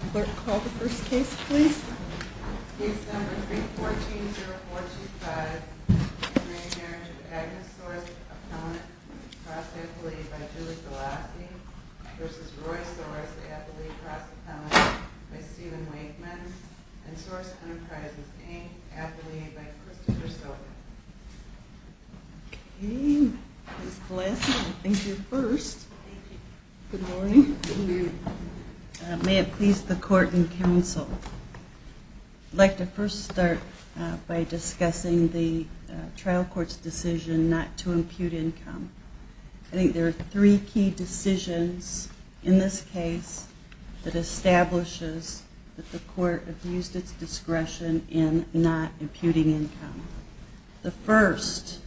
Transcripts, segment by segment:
Appellate by Julie Galassi versus Roy Sorce, the Appellate Cross Appellant by Stephen Winkman and Sorce Enterprises' eighth Appellate by Christopher Stoker. Okay, Ms. Galassi, I think you're first. Thank you. Good morning. Good morning. May it please the court and counsel, I'd like to first start by discussing the trial court's decision not to impute income. I think there are three key decisions in this case that establishes that the court abused its discretion in not imputing income. The first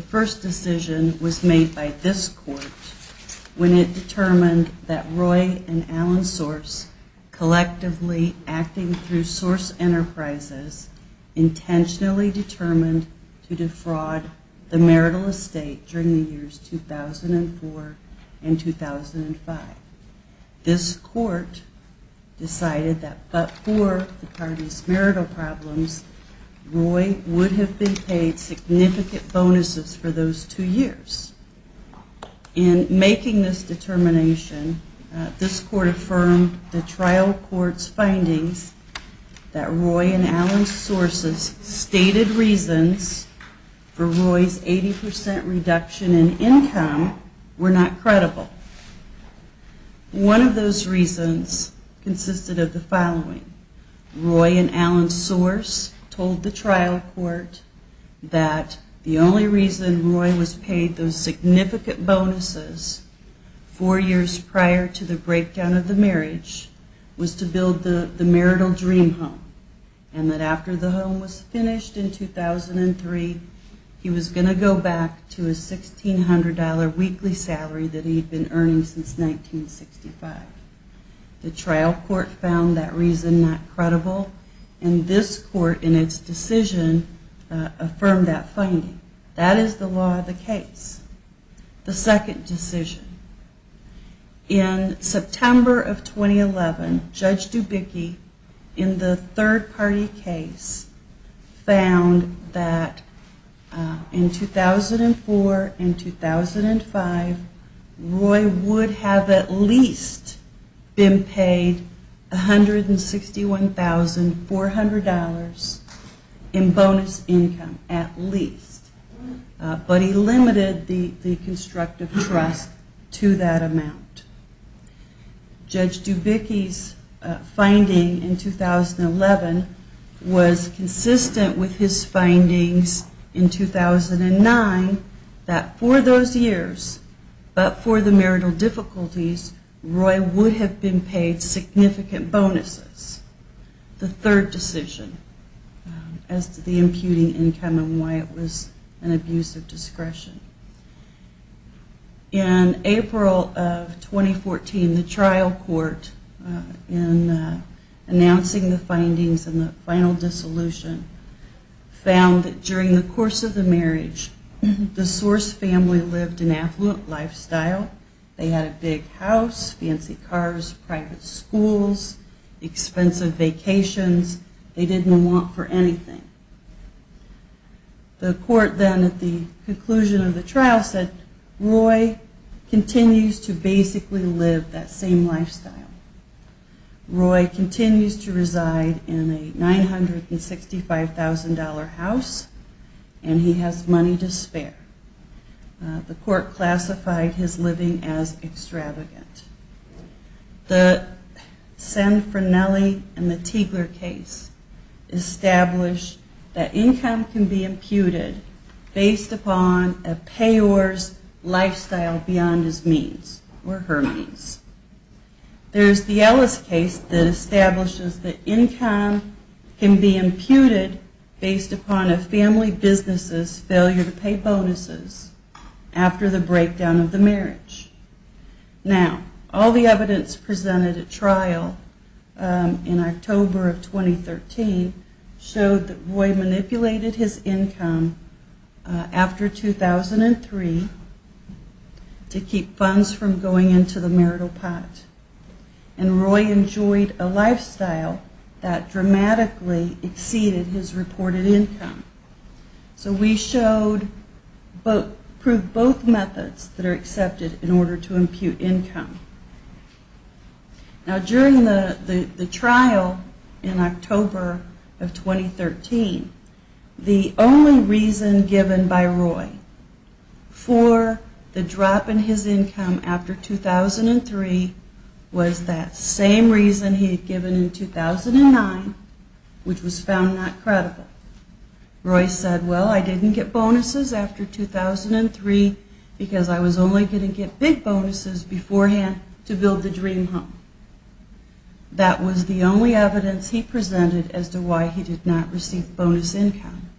decision was made by this court when it determined that Roy and Alan Sorce, collectively acting through Sorce Enterprises, intentionally determined to defraud the marital estate during the years 2004 and 2005. This court decided that but for the parties' marital problems, Roy would have been paid significant bonuses for those two years. In making this determination, this court affirmed the trial court's findings that Roy and Alan Sorce's stated reasons for Roy's 80% reduction in income were not credible. One of those reasons consisted of the following. Roy and Alan Sorce told the trial court that the only reason Roy was paid those significant bonuses four years prior to the breakdown of the marriage was to build the marital dream home. And that after the home was finished in 2003, he was going to go back to his $1,600 weekly salary that he'd been earning since 1965. The trial court found that reason not credible, and this court in its decision affirmed that finding. That is the law of the case. The second decision. In September of 2011, Judge Dubicki, in the third party case, found that in 2004 and 2005, Roy would have at least been paid $161,400 in bonus income. At least. But he limited the constructive trust to that amount. Judge Dubicki's finding in 2011 was consistent with his findings in 2009 that for those years, but for the marital difficulties, Roy would have been paid significant bonuses. The third decision as to the imputing income and why it was an abuse of discretion. In April of 2014, the trial court, in announcing the findings in the final dissolution, found that during the course of the marriage, the Sorce family lived an affluent lifestyle. They had a big house, fancy cars, private schools, expensive vacations. They didn't want for anything. The court then at the conclusion of the trial said, Roy continues to basically live that same lifestyle. Roy continues to reside in a $965,000 house, and he has money to spare. The court classified his living as extravagant. The San Franelli and the Tiegler case established that income can be imputed based upon a payor's lifestyle beyond his means or her means. There's the Ellis case that establishes that income can be imputed based upon a family business's failure to pay bonuses after the breakdown of the marriage. Now, all the evidence presented at trial in October of 2013 showed that Roy manipulated his income after 2003 to keep funds from going into the marital pot. And Roy enjoyed a lifestyle that dramatically exceeded his reported income. So we proved both methods that are accepted in order to impute income. Now, during the trial in October of 2013, the only reason given by Roy for the drop in his income after 2003 was that same reason he had given in 2009, which was found not credible. Roy said, well, I didn't get bonuses after 2003 because I was only going to get big bonuses beforehand to build the dream home. That was the only evidence he presented as to why he did not receive bonus income.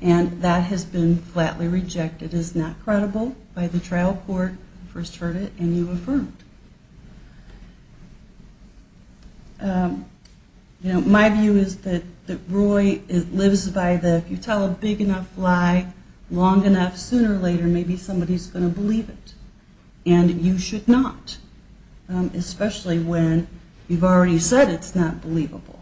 And that has been flatly rejected as not credible by the trial court. I first heard it, and you affirmed. You know, my view is that Roy lives by the, if you tell a big enough lie long enough, sooner or later, maybe somebody's going to believe it. And you should not, especially when you've already said it's not believable.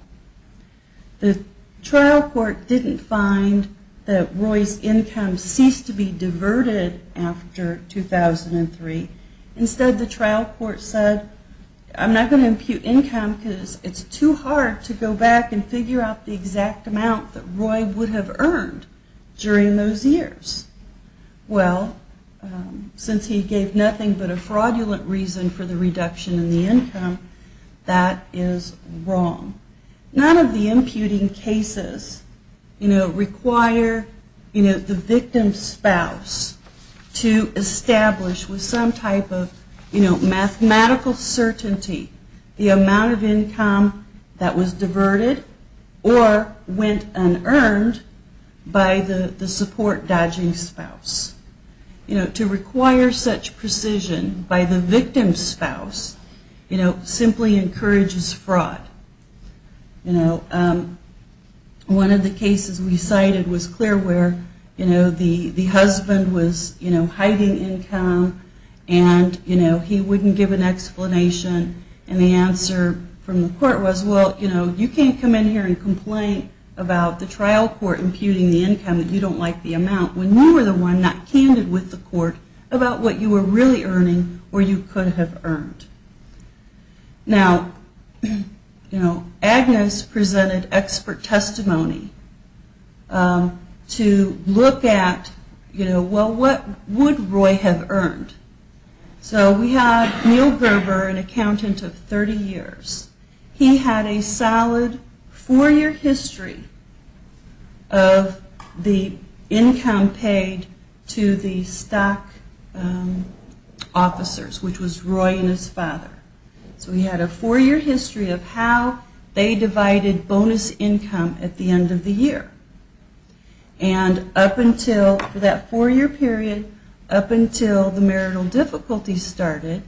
The trial court didn't find that Roy's income ceased to be diverted after 2003. Instead, the trial court said, I'm not going to impute income because it's too hard to go back and figure out the exact amount that Roy would have earned during those years. Well, since he gave nothing but a fraudulent reason for the reduction in the income, that is wrong. None of the imputing cases require the victim's spouse to establish with some type of mathematical certainty the amount of income that was diverted or went unearned by the support dodging spouse. To require such precision by the victim's spouse simply encourages fraud. One of the cases we cited was clear where the husband was hiding income and he wouldn't give an explanation. And the answer from the court was, well, you can't come in here and complain about the trial court imputing the income that you don't like the amount when you were the one not candid with the court about what you were really earning or you could have earned. Now, you know, Agnes presented expert testimony to look at, you know, well, what would Roy have earned. So we have Neil Gerber, an accountant of 30 years. He had a solid four-year history of the income paid to the stock officers, which was Roy and his family. And Roy's father. So he had a four-year history of how they divided bonus income at the end of the year. And up until that four-year period, up until the marital difficulties started,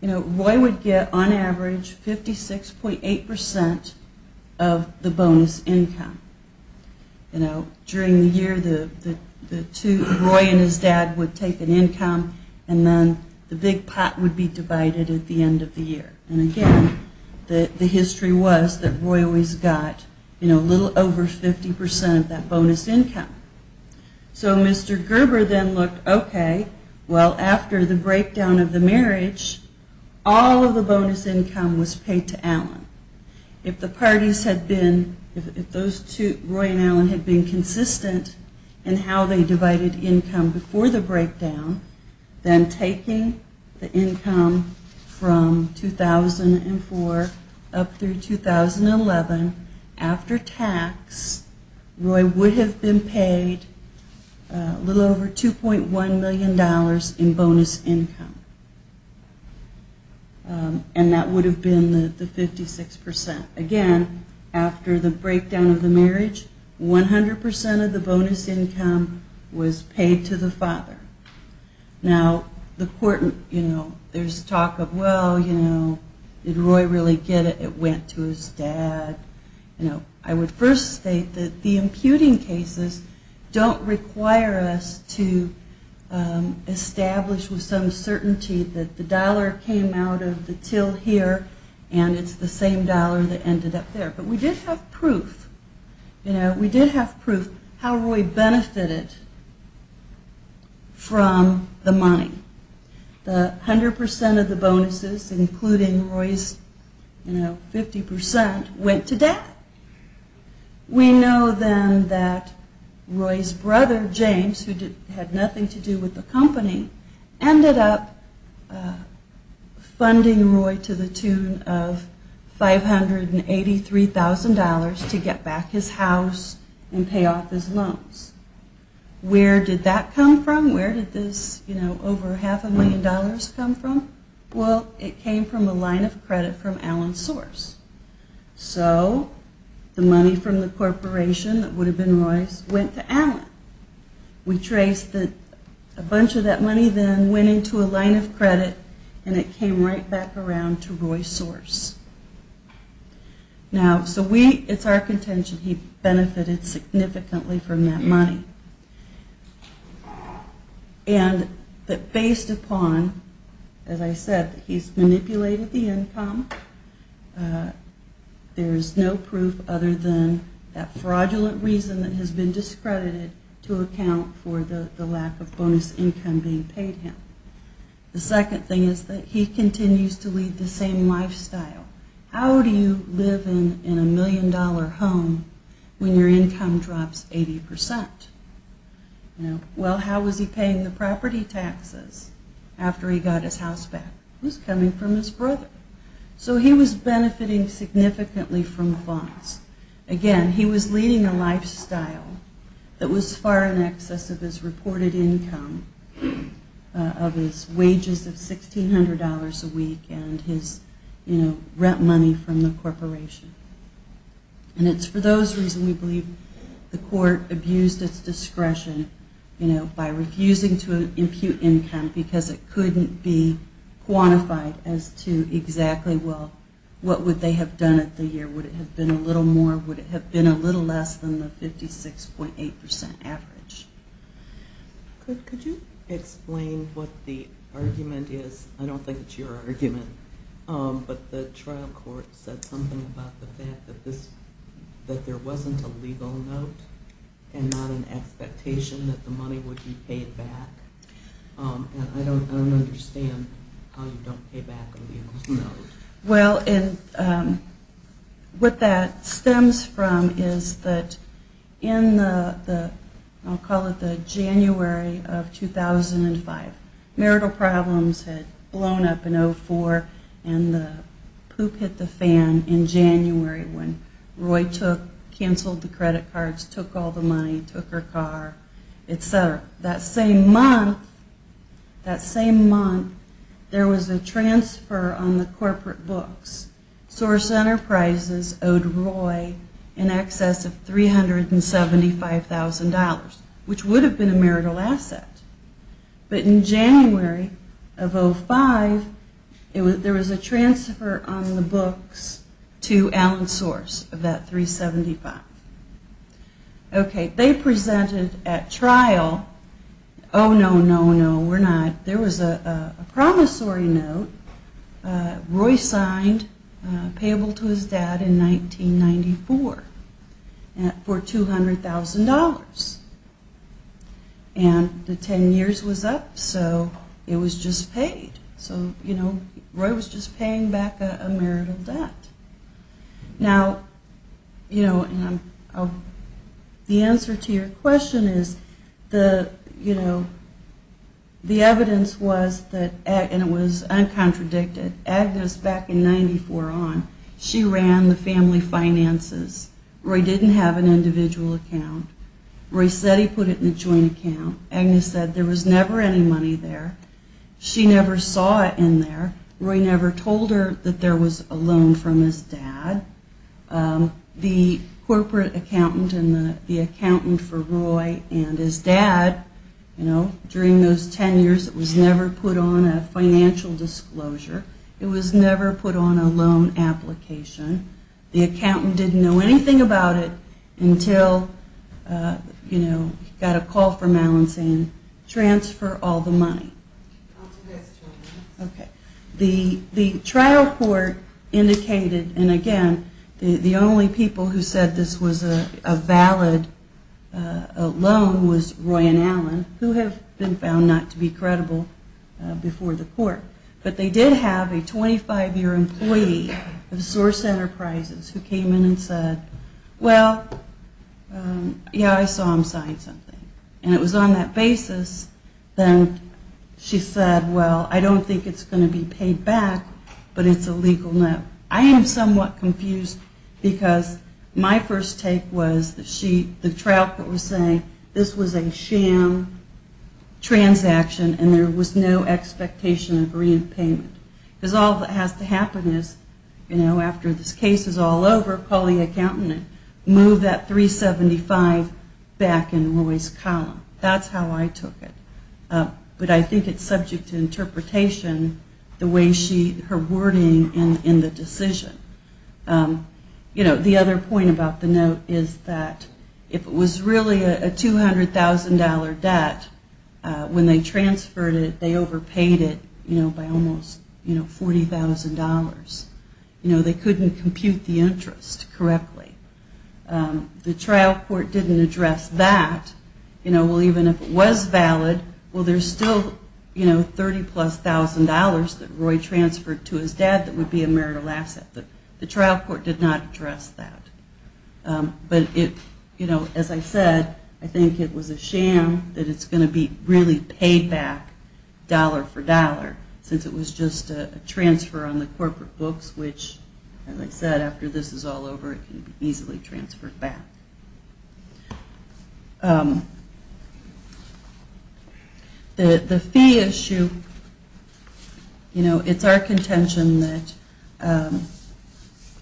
you know, Roy would get on average 56.8% of the bonus income. You know, during the year the two, Roy and his dad, would take an income and then the big pot would be divided at the end of the year. And again, the history was that Roy always got, you know, a little over 50% of that bonus income. So Mr. Gerber then looked, okay, well, after the breakdown of the marriage, all of the bonus income was paid to Alan. If the parties had been, if those two, Roy and Alan, had been consistent in how they divided income before the breakdown, then taking the income from Roy and his dad, from 2004 up through 2011, after tax, Roy would have been paid a little over $2.1 million in bonus income. And that would have been the 56%. Again, after the breakdown of the marriage, 100% of the bonus income was paid to the father. Now, the court, you know, there's talk of, well, you know, did Roy really get it? It went to his dad. You know, I would first state that the imputing cases don't require us to establish with some certainty that the dollar came out of the till here and it's the same dollar that ended up there. But we did have proof, you know, we did have proof how Roy benefited from the imputing cases. We did have proof how Roy benefited from the money. The 100% of the bonuses, including Roy's, you know, 50%, went to dad. We know then that Roy's brother, James, who had nothing to do with the company, ended up funding Roy to the tune of $583,000 to get back his house and pay off his loans. Where did that come from? Where did this, you know, over half a million dollars come from? Well, it came from a line of credit from Allen Source. So the money from the corporation that would have been Roy's went to Allen. We traced a bunch of that money then, went into a line of credit, and it came right back around to Roy Source. Now, so we, it's our contention he benefited significantly from that money. And that based upon, as I said, he's manipulated the income, there's no proof other than that fraudulent reason that has been discredited to account for the lack of bonus income being paid him. The second thing is that he continues to lead the same lifestyle. How do you live in a million-dollar home when your income drops 80%? Well, how was he paying the property taxes after he got his house back? It was coming from his brother. So he was benefiting significantly from the bonus. Again, he was leading a lifestyle that was far in excess of his reported income of his wages of $1,600 a week and his, you know, rent money from the corporation. And it's for those reasons we believe the court abused its discretion, you know, by refusing to impute income because it couldn't be quantified as to existing income. So the question is, you know, exactly, well, what would they have done it the year? Would it have been a little more? Would it have been a little less than the 56.8% average? Could you explain what the argument is? I don't think it's your argument, but the trial court said something about the fact that there wasn't a legal note and not an expectation that the money would be paid back. Well, and what that stems from is that in the, I'll call it the January of 2005, marital problems had blown up in 04 and the poop hit the fan in January when Roy took, canceled the credit cards, took all the money, took her car, etc. However, that same month, that same month, there was a transfer on the corporate books. Source Enterprises owed Roy in excess of $375,000, which would have been a marital asset. But in January of 05, there was a transfer on the books to Allen Source of that $375,000. Okay, they presented at trial, oh no, no, no, we're not, there was a promissory note Roy signed payable to his dad in 1994 for $200,000. And the 10 years was up, so it was just paid. So, you know, Roy was just paying back a marital debt. Now, you know, the answer to your question is the, you know, the evidence was that, and it was uncontradicted, Agnes back in 94 on, she ran the family finances. Roy didn't have an individual account. Roy said he put it in a joint account. Agnes said there was never any money there. She never saw it in there. Roy never told her that there was a loan from his dad. The corporate accountant and the accountant for Roy and his dad, you know, during those 10 years, it was never put on a financial disclosure. It was never put on a loan application. The accountant didn't know anything about it until, you know, he got a call from Allen saying transfer all the money. Okay. The trial court indicated, and again, the only people who said this was a valid loan was Roy and Allen, who have been found not to be credible before the court. But they did have a 25-year employee of Source Enterprises who came in and said, well, yeah, I saw him sign something. And it was on that basis that she said, well, I don't think it's going to be paid back, but it's a legal note. I am somewhat confused because my first take was that she, the trial court was saying this was a sham transaction and there was no expectation of reimpayment. Because all that has to happen is, you know, after this case is all over, call the accountant and move that 375 back in Roy's car. That's how I took it. But I think it's subject to interpretation the way she, her wording in the decision. You know, the other point about the note is that if it was really a $200,000 debt, when they transferred it, they overpaid it, you know, by almost $40,000. You know, they couldn't compute the interest correctly. The trial court didn't address that. You know, well, even if it was valid, well, there's still, you know, $30,000 plus that Roy transferred to his dad that would be a marital asset. The trial court did not address that. But it, you know, as I said, I think it was a sham that it's going to be really paid back dollar for dollar since it was just a transfer on the corporate books, which, as I said, after this is all over, it can be easily transferred back. The fee issue, you know, it's our contention that,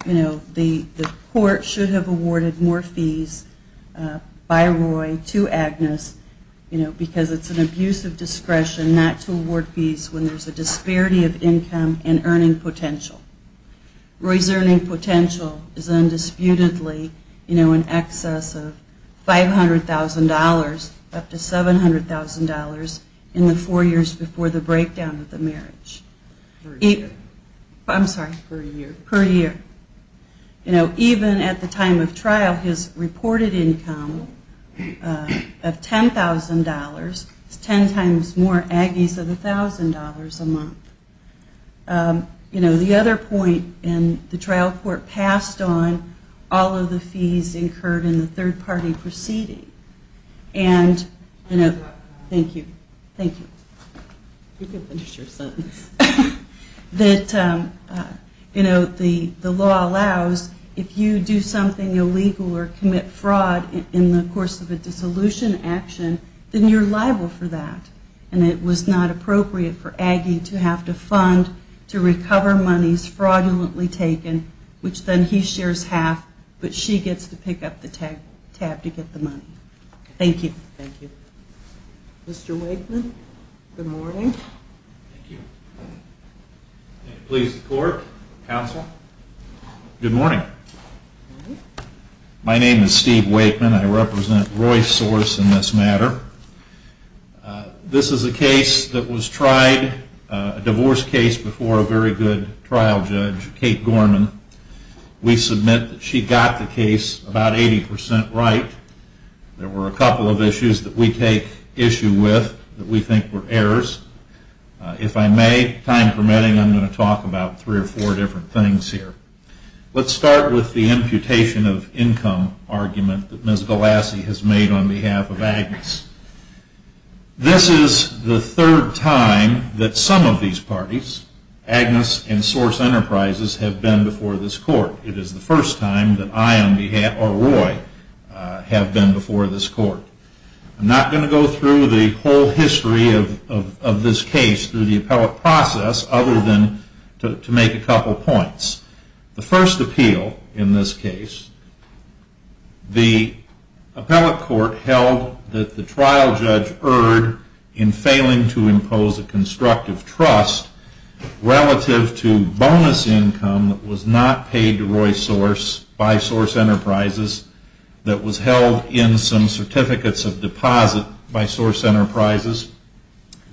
you know, the court should have awarded more fees by Roy to Agnes, you know, because it's an abuse of discretion not to award fees when there's a disparity of income and earning potential. Roy's earning potential is undisputedly, you know, in excess of $500,000. Up to $700,000 in the four years before the breakdown of the marriage. I'm sorry, per year. You know, even at the time of trial, his reported income of $10,000 is 10 times more Agnes of $1,000 a month. You know, the other point, and the trial court passed on all of the fees incurred in the third party proceeding. And, you know, thank you, thank you. That, you know, the law allows if you do something illegal or commit fraud in the course of a dissolution action, then you're liable for that. And it was not appropriate for Aggie to have to fund to recover monies fraudulently taken, which then he shares half, but she gets to pick up the tab to get the money. Thank you. Mr. Wakeman, good morning. Good morning. My name is Steve Wakeman, I represent Roy's source in this matter. This is a case that was tried, a divorce case before a very good trial judge, Kate Gorman. There were a couple of issues that we take issue with that we think were errors. If I may, time permitting, I'm going to talk about three or four different things here. Let's start with the imputation of income argument that Ms. Galassi has made on behalf of Agnes. This is the third time that some of these parties, Agnes and Source Enterprises, have been before this court. It is the first time that I, on behalf, or Roy, have been before this court. I'm not going to go through the whole history of this case through the appellate process, other than to make a couple points. The first appeal in this case, the appellate court held that the trial judge erred in failing to impose a constructive trust relative to bonus income that was not paid to Roy's source by Source Enterprises that was held in some certificates of deposit by Source Enterprises.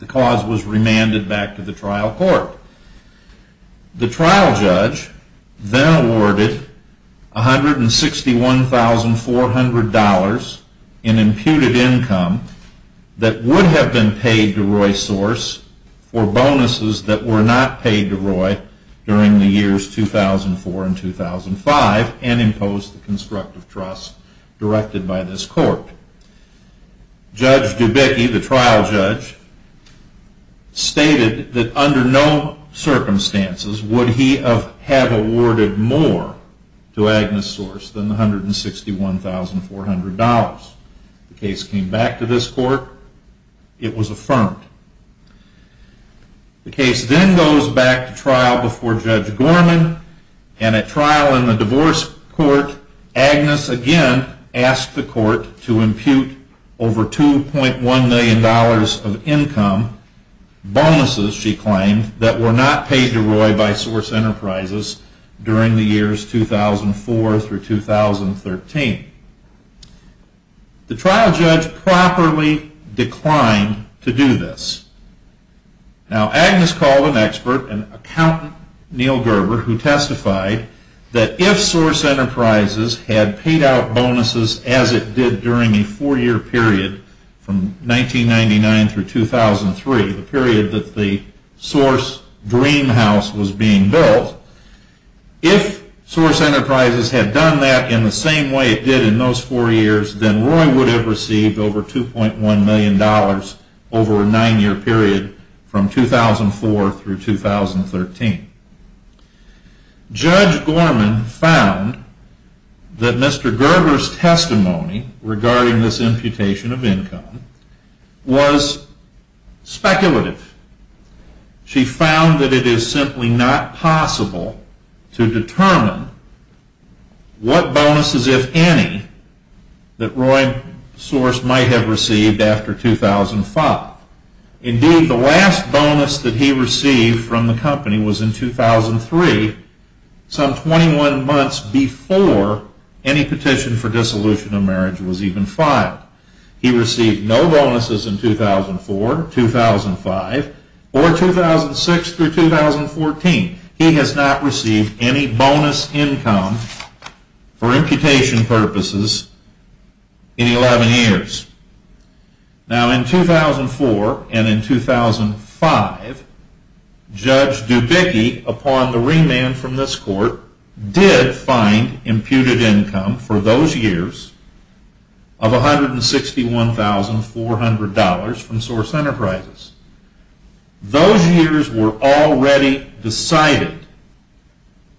The cause was remanded back to the trial court. The trial judge then awarded $161,400 in imputed income that would have been paid to Roy's source for bonuses that were not paid to Roy during the years 2000 and 2001. The trial judge then awarded $161,400 in imputed income that would have been paid to Roy's source for bonuses that were not paid to Roy during the years 2004 and 2005, and imposed the constructive trust directed by this court. Judge Dubicki, the trial judge, stated that under no circumstances would he have awarded more to Agnes Source than the $161,400. The case came back to this court. It was affirmed. The case then goes back to trial before Judge Gorman, and at trial in the divorce court, Agnes again asked the court to impute over $2.1 million of income, bonuses, she claimed, that were not paid to Roy by Source Enterprises during the years 2004 through 2013. The trial judge properly declined to do this. Now, Agnes called an expert, an accountant, Neil Gerber, who testified that if Source Enterprises had paid out bonuses as it did during a four-year period from 1999 through 2003, the period that the Source Dream House was being built, if Source Enterprises had done that in the same way it did during the four-year period, the bonuses would have been paid to Roy. If Source Enterprises had paid out bonuses as it did in those four years, then Roy would have received over $2.1 million over a nine-year period from 2004 through 2013. Judge Gorman found that Mr. Gerber's testimony regarding this imputation of income was speculative. She found that it is simply not possible to determine what bonuses, if any, were paid to Roy by Source Enterprises. She also found that Roy Source might have received after 2005. Indeed, the last bonus that he received from the company was in 2003, some 21 months before any petition for dissolution of marriage was even filed. He received no bonuses in 2004, 2005, or 2006 through 2014. He has not received any bonus income for imputation purposes. Now, in 2004 and in 2005, Judge Dubicki, upon the remand from this Court, did find imputed income for those years of $161,400 from Source Enterprises. Those years were already decided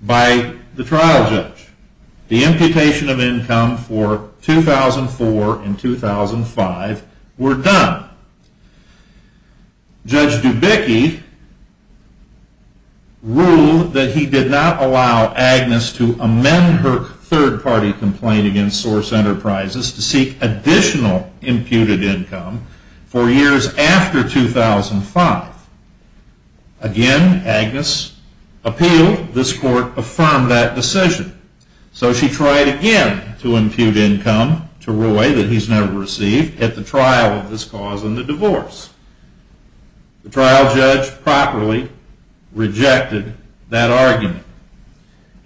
by the trial judge. The imputation of income for 2004 and 2005 were done. Judge Dubicki ruled that he did not allow Agnes to amend her third-party complaint against Source Enterprises to seek additional imputed income for years after 2005. Again, Agnes appealed. This Court affirmed that decision. So, she tried again to impute income to Roy that he has never received at the trial of this cause and the divorce. The trial judge properly rejected that argument.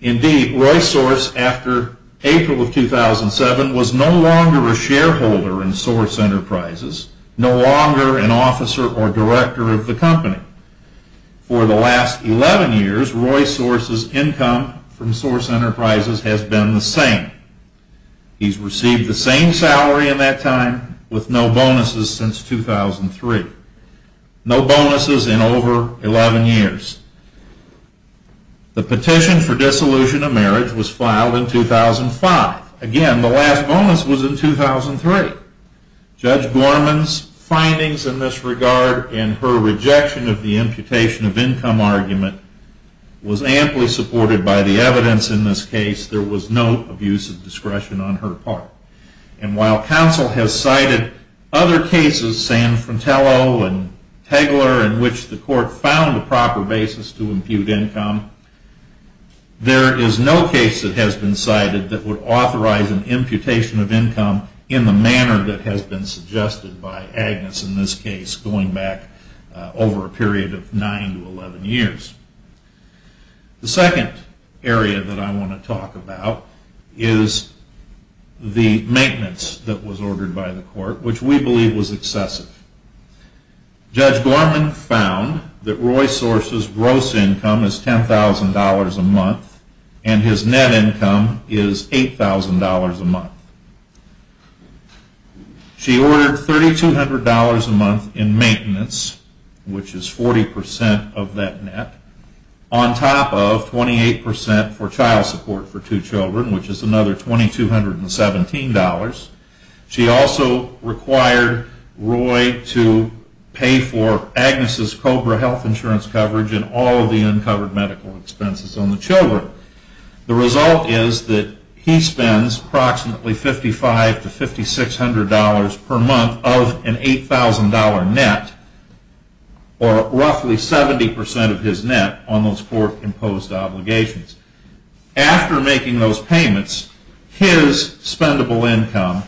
Indeed, Roy Source, after April of 2007, was no longer a shareholder in Source Enterprises, no longer an officer or director of the company. For the last 11 years, Roy Source's income from Source Enterprises has been the same. He has received the same salary in that time with no bonuses since 2003. No bonuses in over 11 years. The petition for dissolution of marriage was filed in 2005. Again, the last bonus was in 2003. Judge Gorman's findings in this regard and her rejection of the imputation of income argument was amply supported by the evidence in this case. There was no abuse of discretion on her part. And while counsel has cited other cases, San Fratello and Tegeler, in which the Court found a proper basis to impute income, there is no case that has been cited that would authorize an imputation of income in the manner in which it was found. This is a manner that has been suggested by Agnes in this case going back over a period of 9 to 11 years. The second area that I want to talk about is the maintenance that was ordered by the Court, which we believe was excessive. Judge Gorman found that Roy Source's gross income is $10,000 a month and his net income is $8,000 a month. She ordered $3,200 a month in maintenance, which is 40% of that net, on top of 28% for child support for two children, which is another $2,217. She also required Roy to pay for Agnes' COBRA health insurance coverage and all of the uncovered medical expenses on the children. The result is that he spends approximately $5,500 to $5,600 per month of an $8,000 net, or roughly 70% of his net on those Court-imposed obligations. After making those payments, his spendable income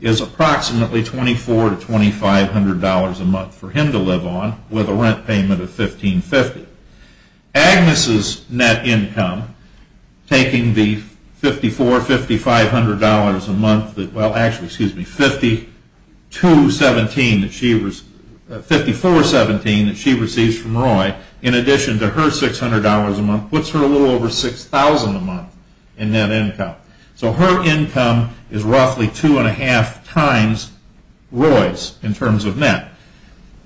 is approximately $2,400 to $2,500 a month for him to live on, with a rent payment of $1,550. Agnes' net income, taking the $5,400 that she receives from Roy, in addition to her $6,000 a month, puts her a little over $6,000 a month in net income. So her income is roughly 2.5 times Roy's in terms of net.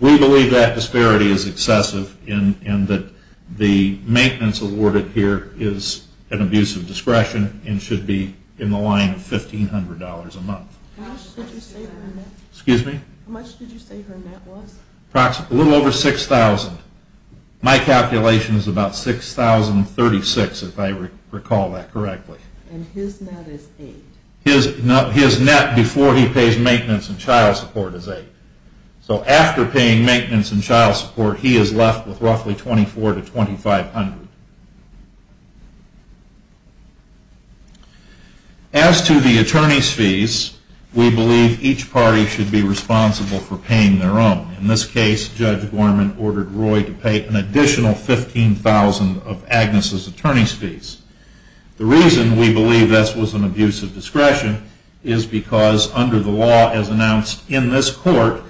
We believe that disparity is excessive and that the maintenance awarded here is an abuse of discretion and should be in the line of $1,500 a month. How much did you say her net was? A little over $6,000. My calculation is about $6,036, if I recall that correctly. His net before he pays maintenance and child support is $8,000. So after paying maintenance and child support, he is left with roughly $2,400 to $2,500. As to the attorney's fees, we believe each party should be responsible for paying their own. In this case, Judge Gorman ordered Roy to pay an additional $15,000 of Agnes' attorney's fees. The reason we believe this was an abuse of discretion is because under the law as announced in this court,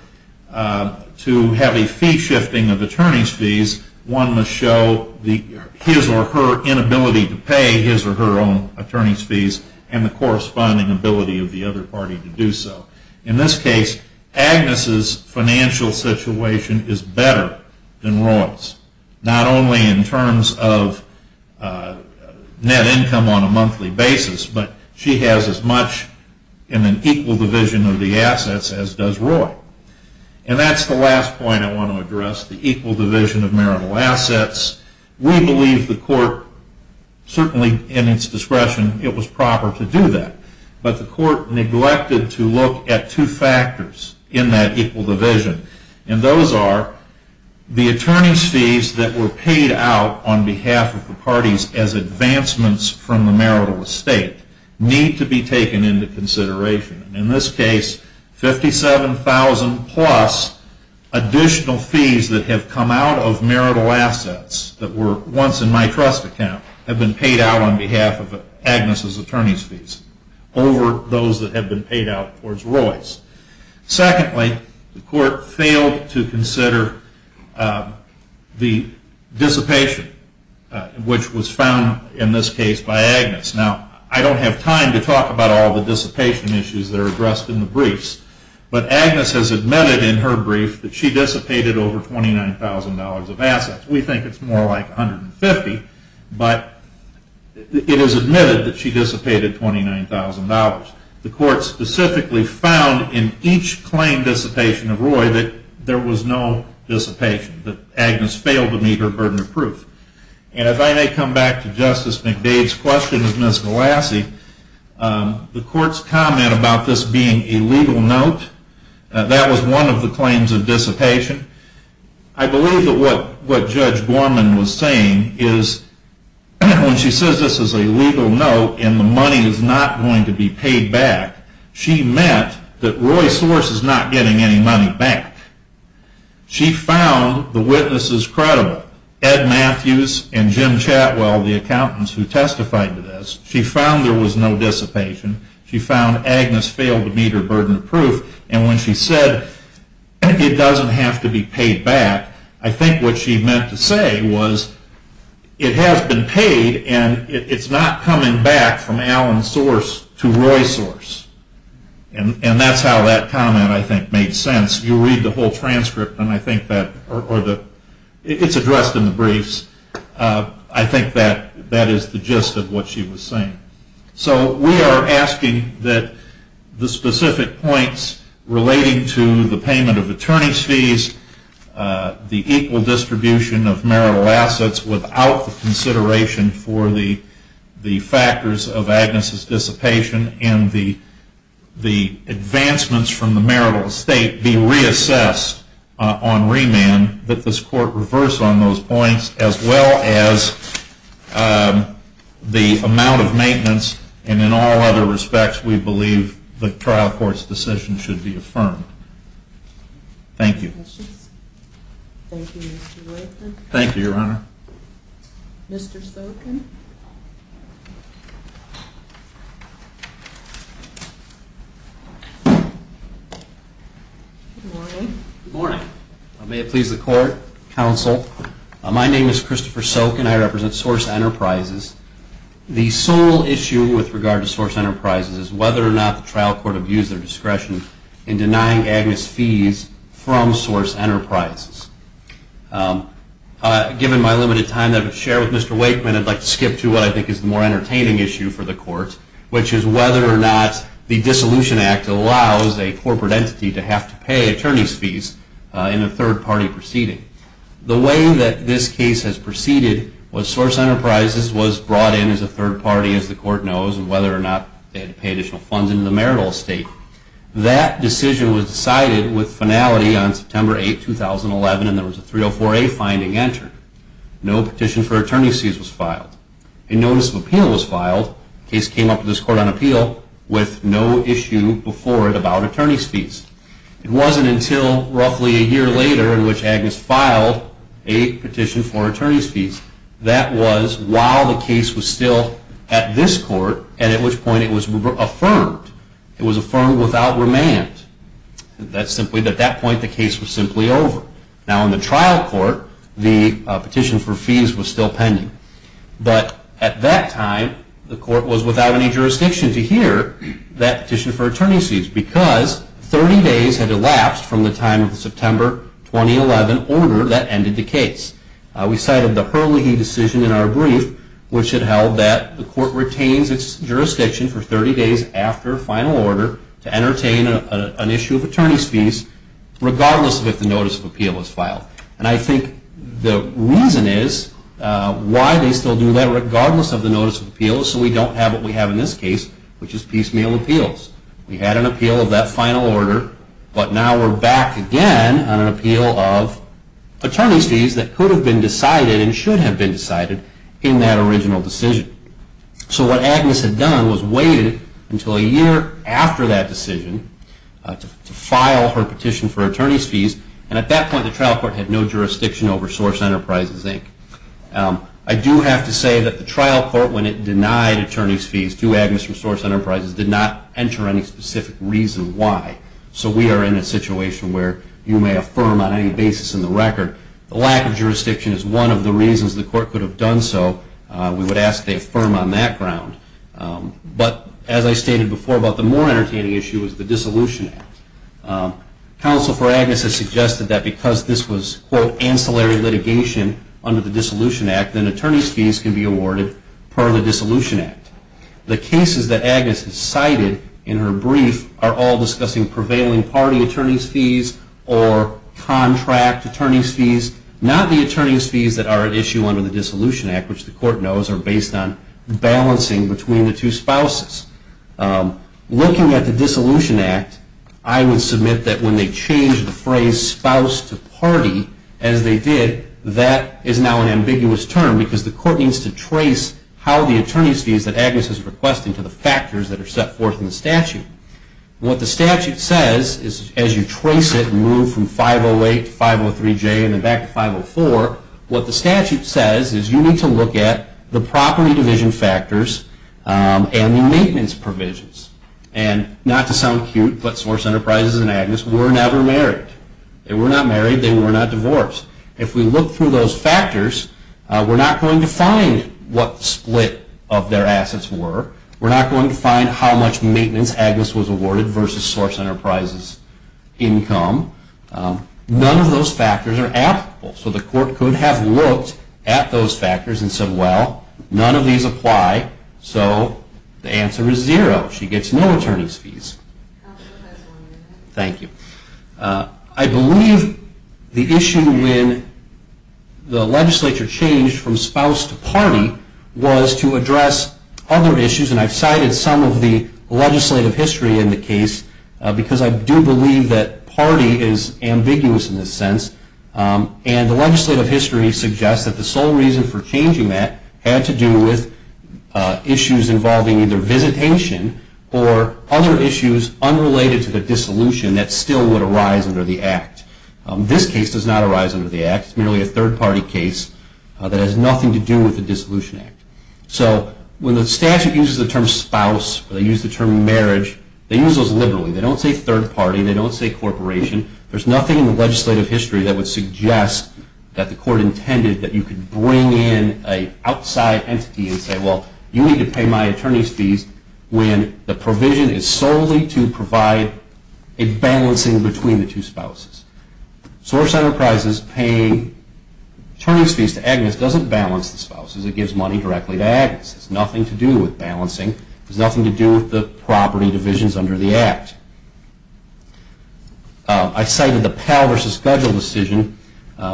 to have a fee shifting of attorney's fees, one must show his or her inability to pay his or her own attorney's fees and the corresponding ability of the other party to do so. In this case, Agnes' financial situation is better than Roy's. Not only in terms of net income on a monthly basis, but she has as much in an equal division of the assets as does Roy. And that's the last point I want to address, the equal division of marital assets. We believe the court, certainly in its discretion, it was proper to do that. But the court neglected to look at two factors in that equal division. And those are the attorney's fees that were paid out on behalf of the parties as advancements from the marital estate need to be taken into consideration. In this case, $57,000 plus additional fees that have come out of marital assets that were once in my trust account have been paid out on behalf of Agnes' attorney's fees over those that have been paid out towards Roy's. Secondly, the court failed to consider the dissipation, which was found in this case by Agnes. Now, I don't have time to talk about all the dissipation issues that are addressed in the briefs, but Agnes has admitted in her brief that she dissipated over $29,000 of assets. We think it's more like $150,000, but it is admitted that she dissipated $29,000. The court specifically found in each claim dissipation of Roy that there was no dissipation, that Agnes failed to meet her burden of proof. And if I may come back to Justice McDade's question of Ms. Velassi, the court's comment about this being a legal note, that was one of the claims of dissipation. I believe that what Judge Gorman was saying is when she says this is a legal note and the money is not going to be paid back, she meant that Roy's source is not getting any money back. She found the witnesses credible, Ed Matthews and Jim Chatwell, the accountants who testified to this. She found there was no dissipation. She found Agnes failed to meet her burden of proof. And when she said it doesn't have to be paid back, I think what she meant to say was it has been paid and it's not coming back from Alan's source to Roy's source. And that's how that comment, I think, made sense. You read the whole transcript, and I think that it's addressed in the briefs. I think that is the gist of what she was saying. So we are asking that the specific points relating to the payment of attorney's fees, the equal distribution of marital assets without the consideration for the factors of Agnes' dissipation and the advancements from the marital estate be reassessed on remand, that this court reverse on those points as well as the amount of maintenance and in all other respects we believe the trial court's decision should be affirmed. Thank you. Any other questions? Thank you, Your Honor. Good morning. Good morning. May it please the court, counsel, my name is Christopher Soken, I represent Source Enterprises. The sole issue with regard to Source Enterprises is whether or not the trial court would use their discretion in denying Agnes' fees from Source Enterprises. Given my limited time that I have to share with Mr. Wakeman, I'd like to skip to what I think is the more entertaining issue for the court, which is whether or not the Dissolution Act allows a corporate entity to have to pay attorney's fees in a third party proceeding. The way that this case has proceeded was Source Enterprises was brought in as a third party, as the court knows, and whether or not they had to pay additional funds into the marital estate. That decision was decided with finality on September 8, 2011 and there was a 304A finding entered. No petition for attorney's fees was filed. A notice of appeal was filed, the case came up to this court on appeal, with no issue before it about attorney's fees. It wasn't until roughly a year later in which Agnes filed a petition for attorney's fees that was while the case was still at this court and at which point it was affirmed. It was affirmed without remand. At that point, the case was simply over. Now in the trial court, the petition for fees was still pending. But at that time, the court was without any jurisdiction to hear that petition for attorney's fees because 30 days had elapsed from the time of the September 2011 order that ended the case. We cited the Hurley v. Decision in our brief, which had held that the court retains its jurisdiction for 30 days after final order to entertain an issue of attorney's fees regardless of if the notice of appeal was filed. I think the reason is why they still do that regardless of the notice of appeal is so we don't have what we have in this case, which is piecemeal appeals. We had an appeal of that final order, but now we're back again on an appeal of attorney's fees that could have been decided and should have been decided in that original decision. So what Agnes had done was waited until a year after that decision to file her petition for attorney's fees and at that point the trial court had no jurisdiction over Source Enterprises, Inc. I do have to say that the trial court, when it denied attorney's fees to Agnes from Source Enterprises, did not enter any specific reason why. So we are in a situation where you may affirm on any basis in the record. The lack of jurisdiction is one of the reasons the court could have done so. We would ask they affirm on that ground. But as I stated before about the more entertaining issue is the Dissolution Act. Counsel for Agnes has suggested that because this was quote, ancillary litigation under the Dissolution Act, then attorney's fees can be awarded per the Dissolution Act. The cases that Agnes has cited in her brief are all discussing prevailing party attorney's fees or contract attorney's fees, not the attorney's fees that are at issue under the Dissolution Act, which the court knows are based on balancing between the two spouses. Looking at the Dissolution Act, I would submit that when they changed the phrase spouse to party, as they did, that is now an ambiguous term because the court needs to trace how the attorney's fees that Agnes is requesting to the factors that are set forth in the statute. What the statute says is as you trace it and move from 508 to 503J and then back to 504, what the statute says is you need to look at the property division factors and the maintenance provisions. And not to sound cute, but Source Enterprises and Agnes were never married. They were not married. They were not divorced. If we look through those factors, we're not going to find what split of their assets were. We're not going to find how much of Source Enterprises' income. None of those factors are applicable. So the court could have looked at those factors and said well, none of these apply, so the answer is zero. She gets no attorney's fees. I believe the issue when the legislature changed from spouse to party was to address other issues, and I've cited some of the legislative history in the case because I do believe that party is ambiguous in this sense, and the legislative history suggests that the sole reason for changing that had to do with issues involving either visitation or other issues unrelated to the dissolution that still would arise under the Act. This case does not arise under the Act. It's merely a third party case that has nothing to do with the Dissolution Act. So when the statute uses the term spouse or they use the term marriage, they use those liberally. They don't say third party. They don't say corporation. There's nothing in the legislative history that would suggest that the court intended that you could bring in an outside entity and say well, you need to pay my attorney's fees when the provision is solely to provide a balancing between the two spouses. Source Enterprises paying attorney's fees to Agnes doesn't balance the spouses. It gives money directly to Agnes. It has nothing to do with balancing. It has nothing to do with the property divisions under the Act. I cited the Pell v. Gudgell decision,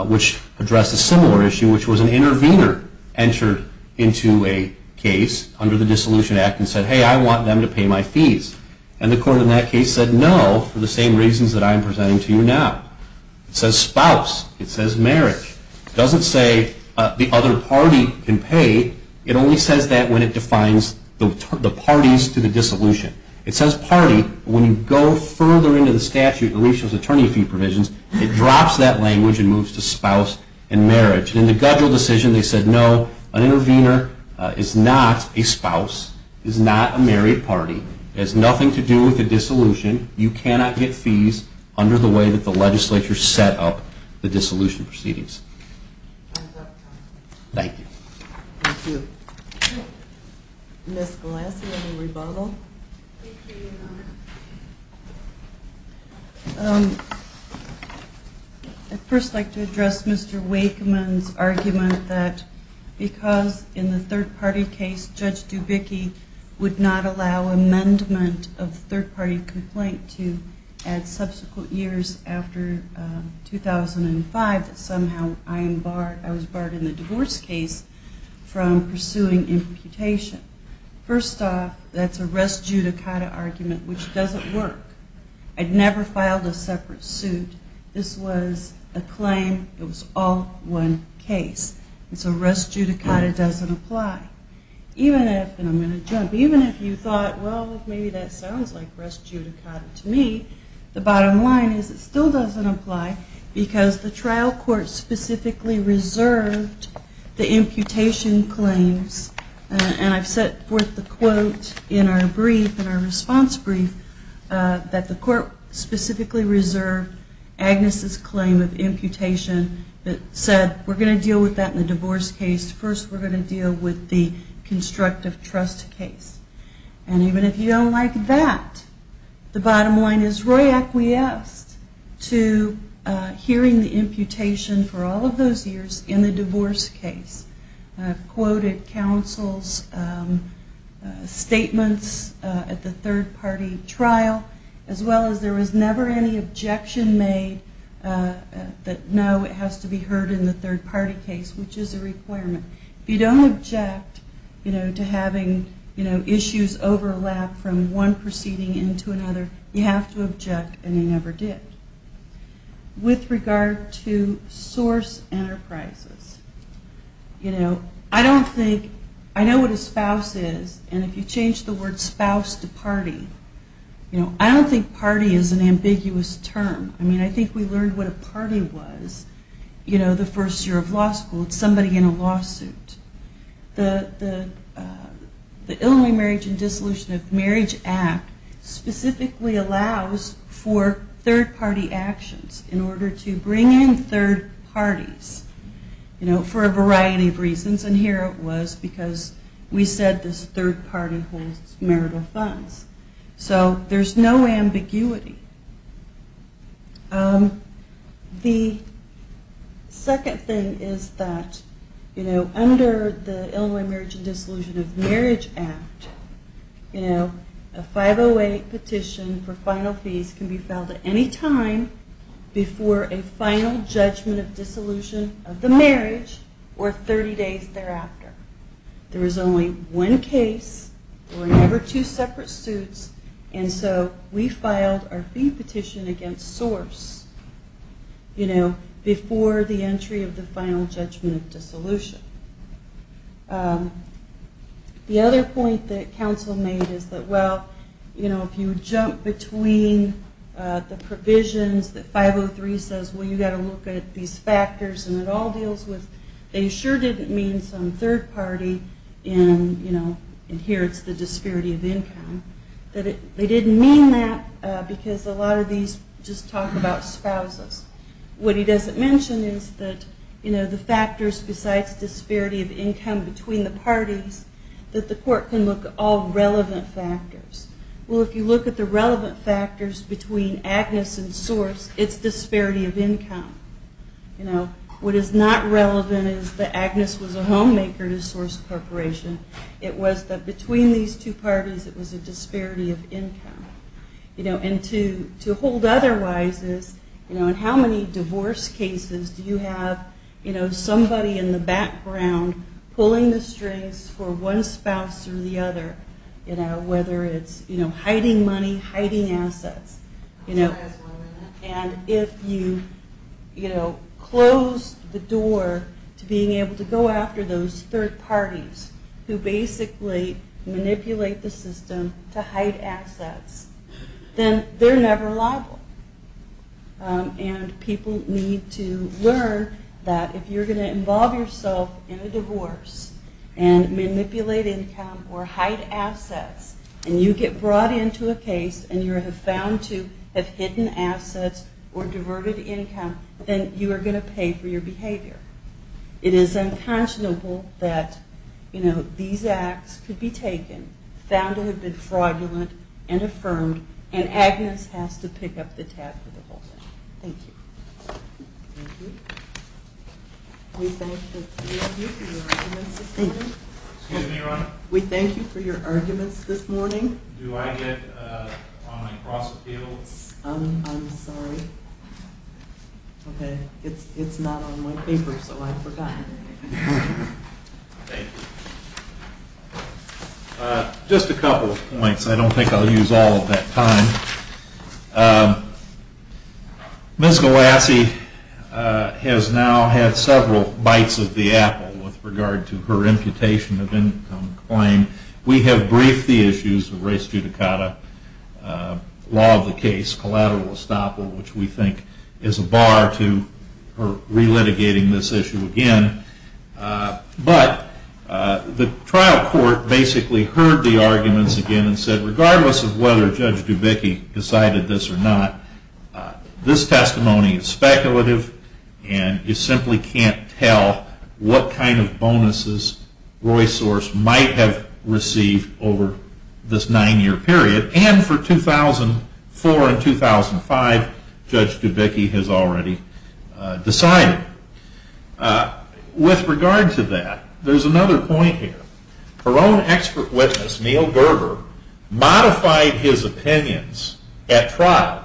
which addressed a similar issue, which was an intervener entered into a case under the Dissolution Act and said hey, I want them to pay my fees. And the court in that case said no for the same reasons that I am presenting to you now. It says spouse. It says marriage. It doesn't say the other party can pay. It only says that when it defines the parties to the dissolution. It says party, but when you go further into the statute, at least those attorney fee provisions, it drops that language and moves to spouse and marriage. In the Gudgell decision they said no, an intervener is not a spouse, is not a married party, has nothing to do with the dissolution. You cannot get fees under the way that the legislature set up the dissolution proceedings. Thank you. Thank you. Ms. Glass, you have a rebuttal. Thank you, Your Honor. I'd first like to address Mr. Wakeman's argument that because in the third party case Judge Dubicki would not allow amendment of third party complaint to add subsequent years after 2005 that somehow I was barred in the divorce case from pursuing imputation. First off, that's a res judicata argument, which doesn't work. I'd never filed a separate suit. This was a claim. It was all one case. And so res judicata doesn't apply. Even if, and I'm going to jump, even if you thought, well, maybe that sounds like res judicata to me, the bottom line is it still doesn't apply because the trial court specifically reserved the imputation claims, and I've set forth the quote in our brief, in our response brief, that the court specifically reserved Agnes' claim of imputation that said we're going to deal with that in the divorce case. First we're going to deal with the constructive trust case. And even if you don't like that, the bottom line is Roy acquiesced to hearing the imputation for all of those years in the divorce case. Quoted counsel's statements at the third party trial as well as there was never any objection made that no, it has to be heard in the third party case, which is a requirement. If you don't object to having issues overlap from one proceeding into another, you have to object and you never did. With regard to source enterprises, you know, I don't think I know what a spouse is, and if you change the word spouse to party, you know, I don't think party is an ambiguous term. I mean, I think we learned what a party was, you know, the first year of law school. It's somebody in a lawsuit. The Illinois Marriage and Dissolution of Marriage Act specifically allows for third party actions in order to bring in third parties, you know, for a variety of reasons. And here it was because we said this third party holds marital funds. So there's no ambiguity. The second thing is that, you know, under the Illinois Marriage and Dissolution of Marriage Act, you know, a 508 petition for final fees can be filed at any time before a final judgment of dissolution of the marriage or 30 days thereafter. There is only one case, or never two separate suits, and so we filed our fee petition against source, you know, before the entry of the final judgment of dissolution. The other point that counsel made is that, well, you know, if you jump between the provisions that 503 says, well, you've got to look at these factors and it all deals with, they sure didn't mean some third party inherits the disparity of income. They didn't mean that because a lot of these just talk about spouses. What he doesn't mention is that the factors besides disparity of income between the parties that the court can look at all relevant factors. Well, if you look at the relevant factors between Agnes and source, it's disparity of income. What is not relevant is that Agnes was a homemaker to Source Corporation. It was that between these two parties it was a disparity of income. And to hold otherwise is, you know, in how many divorce cases do you have somebody in the background pulling the strings for one spouse or the other, whether it's hiding money, hiding assets. And if you close the door to being able to go after those third parties who basically manipulate the system to hide assets, then they're never liable. And people need to learn that if you're going to involve yourself in a divorce and manipulate income or hide assets and you get brought into a case and you're found to have hidden assets or diverted income, then you are going to pay for your behavior. It is unconscionable that, you know, these acts could be taken, found to have been fraudulent and affirmed and Agnes has to pick up the tab for the whole thing. Thank you. Thank you. We thank you for your arguments this morning. Excuse me, Your Honor. We thank you for your arguments this morning. Do I get on my cross appeals? I'm sorry. Okay. It's not on my paper so I've forgotten. Thank you. Just a couple of points. I don't think I'll use all of that time. Ms. Galassi has now had several bites of the apple with regard to her imputation of income claim. We have briefed the issues of res judicata, law of the case, collateral estoppel, which we think is a bar to her re-litigating this issue again. But the trial court basically heard the arguments again and said regardless of whether Judge Dubicki decided this or not, this testimony is speculative and you simply can't tell what kind of bonuses Royce Sorce might have received over this nine year period. And for 2004 and 2005, Judge Dubicki has already decided. With regard to that, there's one expert witness, Neal Gerber, modified his opinions at trial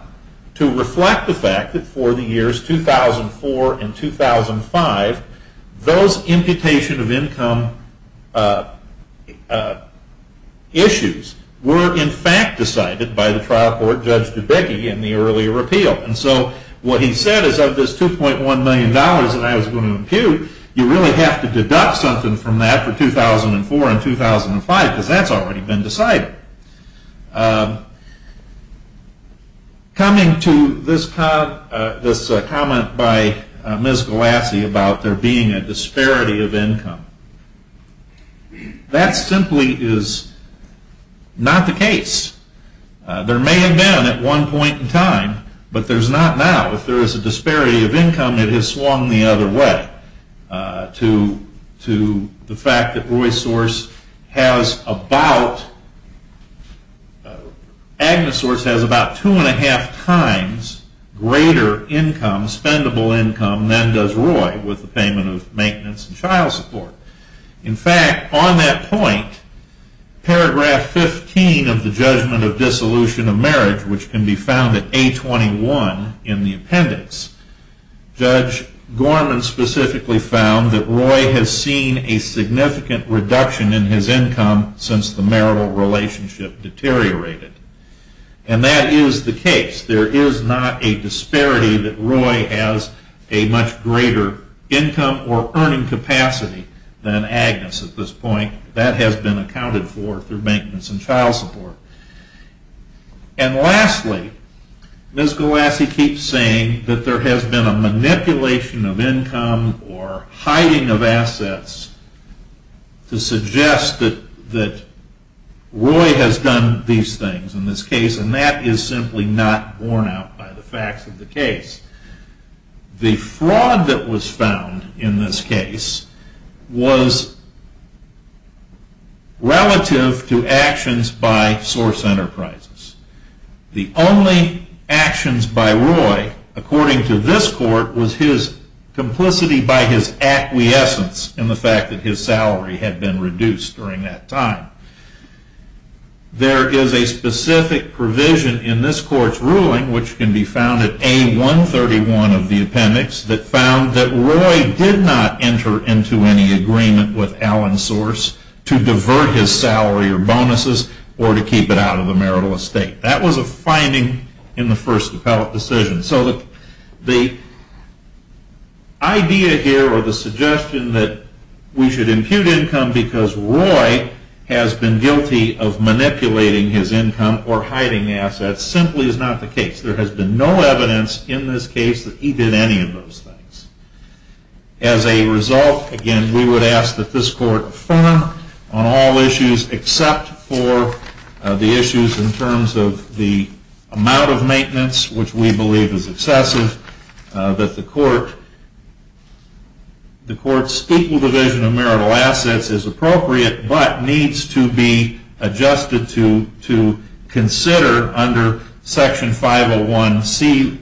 to reflect the fact that for the years 2004 and 2005, those imputation of income issues were in fact decided by the trial court Judge Dubicki in the earlier appeal. And so what he said is of this $2.1 million that I was going to impute, you really have to deduct something from that for 2004 and 2005 because that's already been decided. Coming to this comment by Ms. Galassi about there being a disparity of income, that simply is not the case. There may have been at one point in time, but there's not now. If there is a disparity of income, it has swung the other way to the fact that Royce Sorce has about, Agnes Sorce has about two and a half times greater income, spendable income, than does Royce with the payment of maintenance and child support. In fact, on that point, paragraph 15 of the judgment of dissolution of marriage, which can be found at A21 in the appendix, Judge Gorman specifically found that Roy has seen a significant reduction in his income since the marital relationship deteriorated. And that is the case. There is not a disparity that Roy has a much greater income or earning capacity than Agnes at this point. That has been accounted for through maintenance and child support. And lastly, Ms. Galassi keeps saying that there has been a manipulation of income or hiding of assets to suggest that Roy has done these things in this case, and that is simply not borne out by the facts of the case. The fraud that was found in this case was relative to actions by Sorce Enterprises. The only actions by Roy, according to this court, was his complicity by his acquiescence in the fact that his salary had been reduced during that time. There is a specific provision in this court's ruling, which can be found at A131 of the appendix, that found that Roy did not enter into any agreement with Alan Sorce to divert his salary or bonuses or to keep it out of the marital estate. That was a finding in the first appellate decision. The idea here or the suggestion that we should impute income because Roy has been guilty of manipulating his income or hiding assets simply is not the case. There has been no evidence in this case that he did any of those things. As a result, again, we would ask that this court affirm on all issues except for the issues in terms of the amount of maintenance which we believe is excessive, that the court's equal division of marital assets is appropriate but needs to be adjusted to consider under Section 501C-12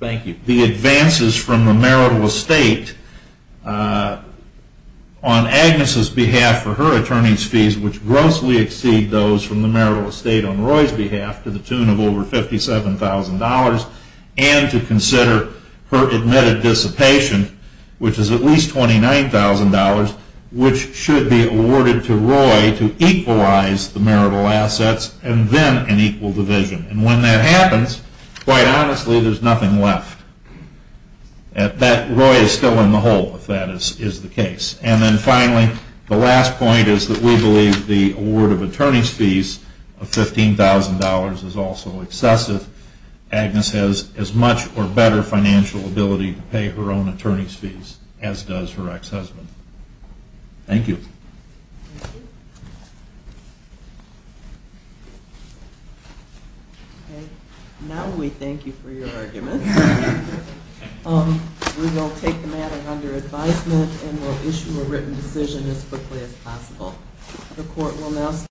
the advances from the marital estate on Agnes' behalf for her attorney's fees, which grossly exceed those from the marital estate on Roy's behalf to the tune of over $57,000 and to consider her admitted dissipation, which is at least $29,000, which should be awarded to Roy to equalize the marital assets and then an equal division. When that happens, quite honestly, there is nothing left. Roy is still in the hole if that is the case. And then finally, the last point is that we believe the award of attorney's fees of $15,000 is also excessive. Agnes has as much or better financial ability to pay her own attorney's fees as does her ex-husband. Thank you. Now we thank you for your argument. We will take the matter under advisement and will issue a written decision as quickly as possible.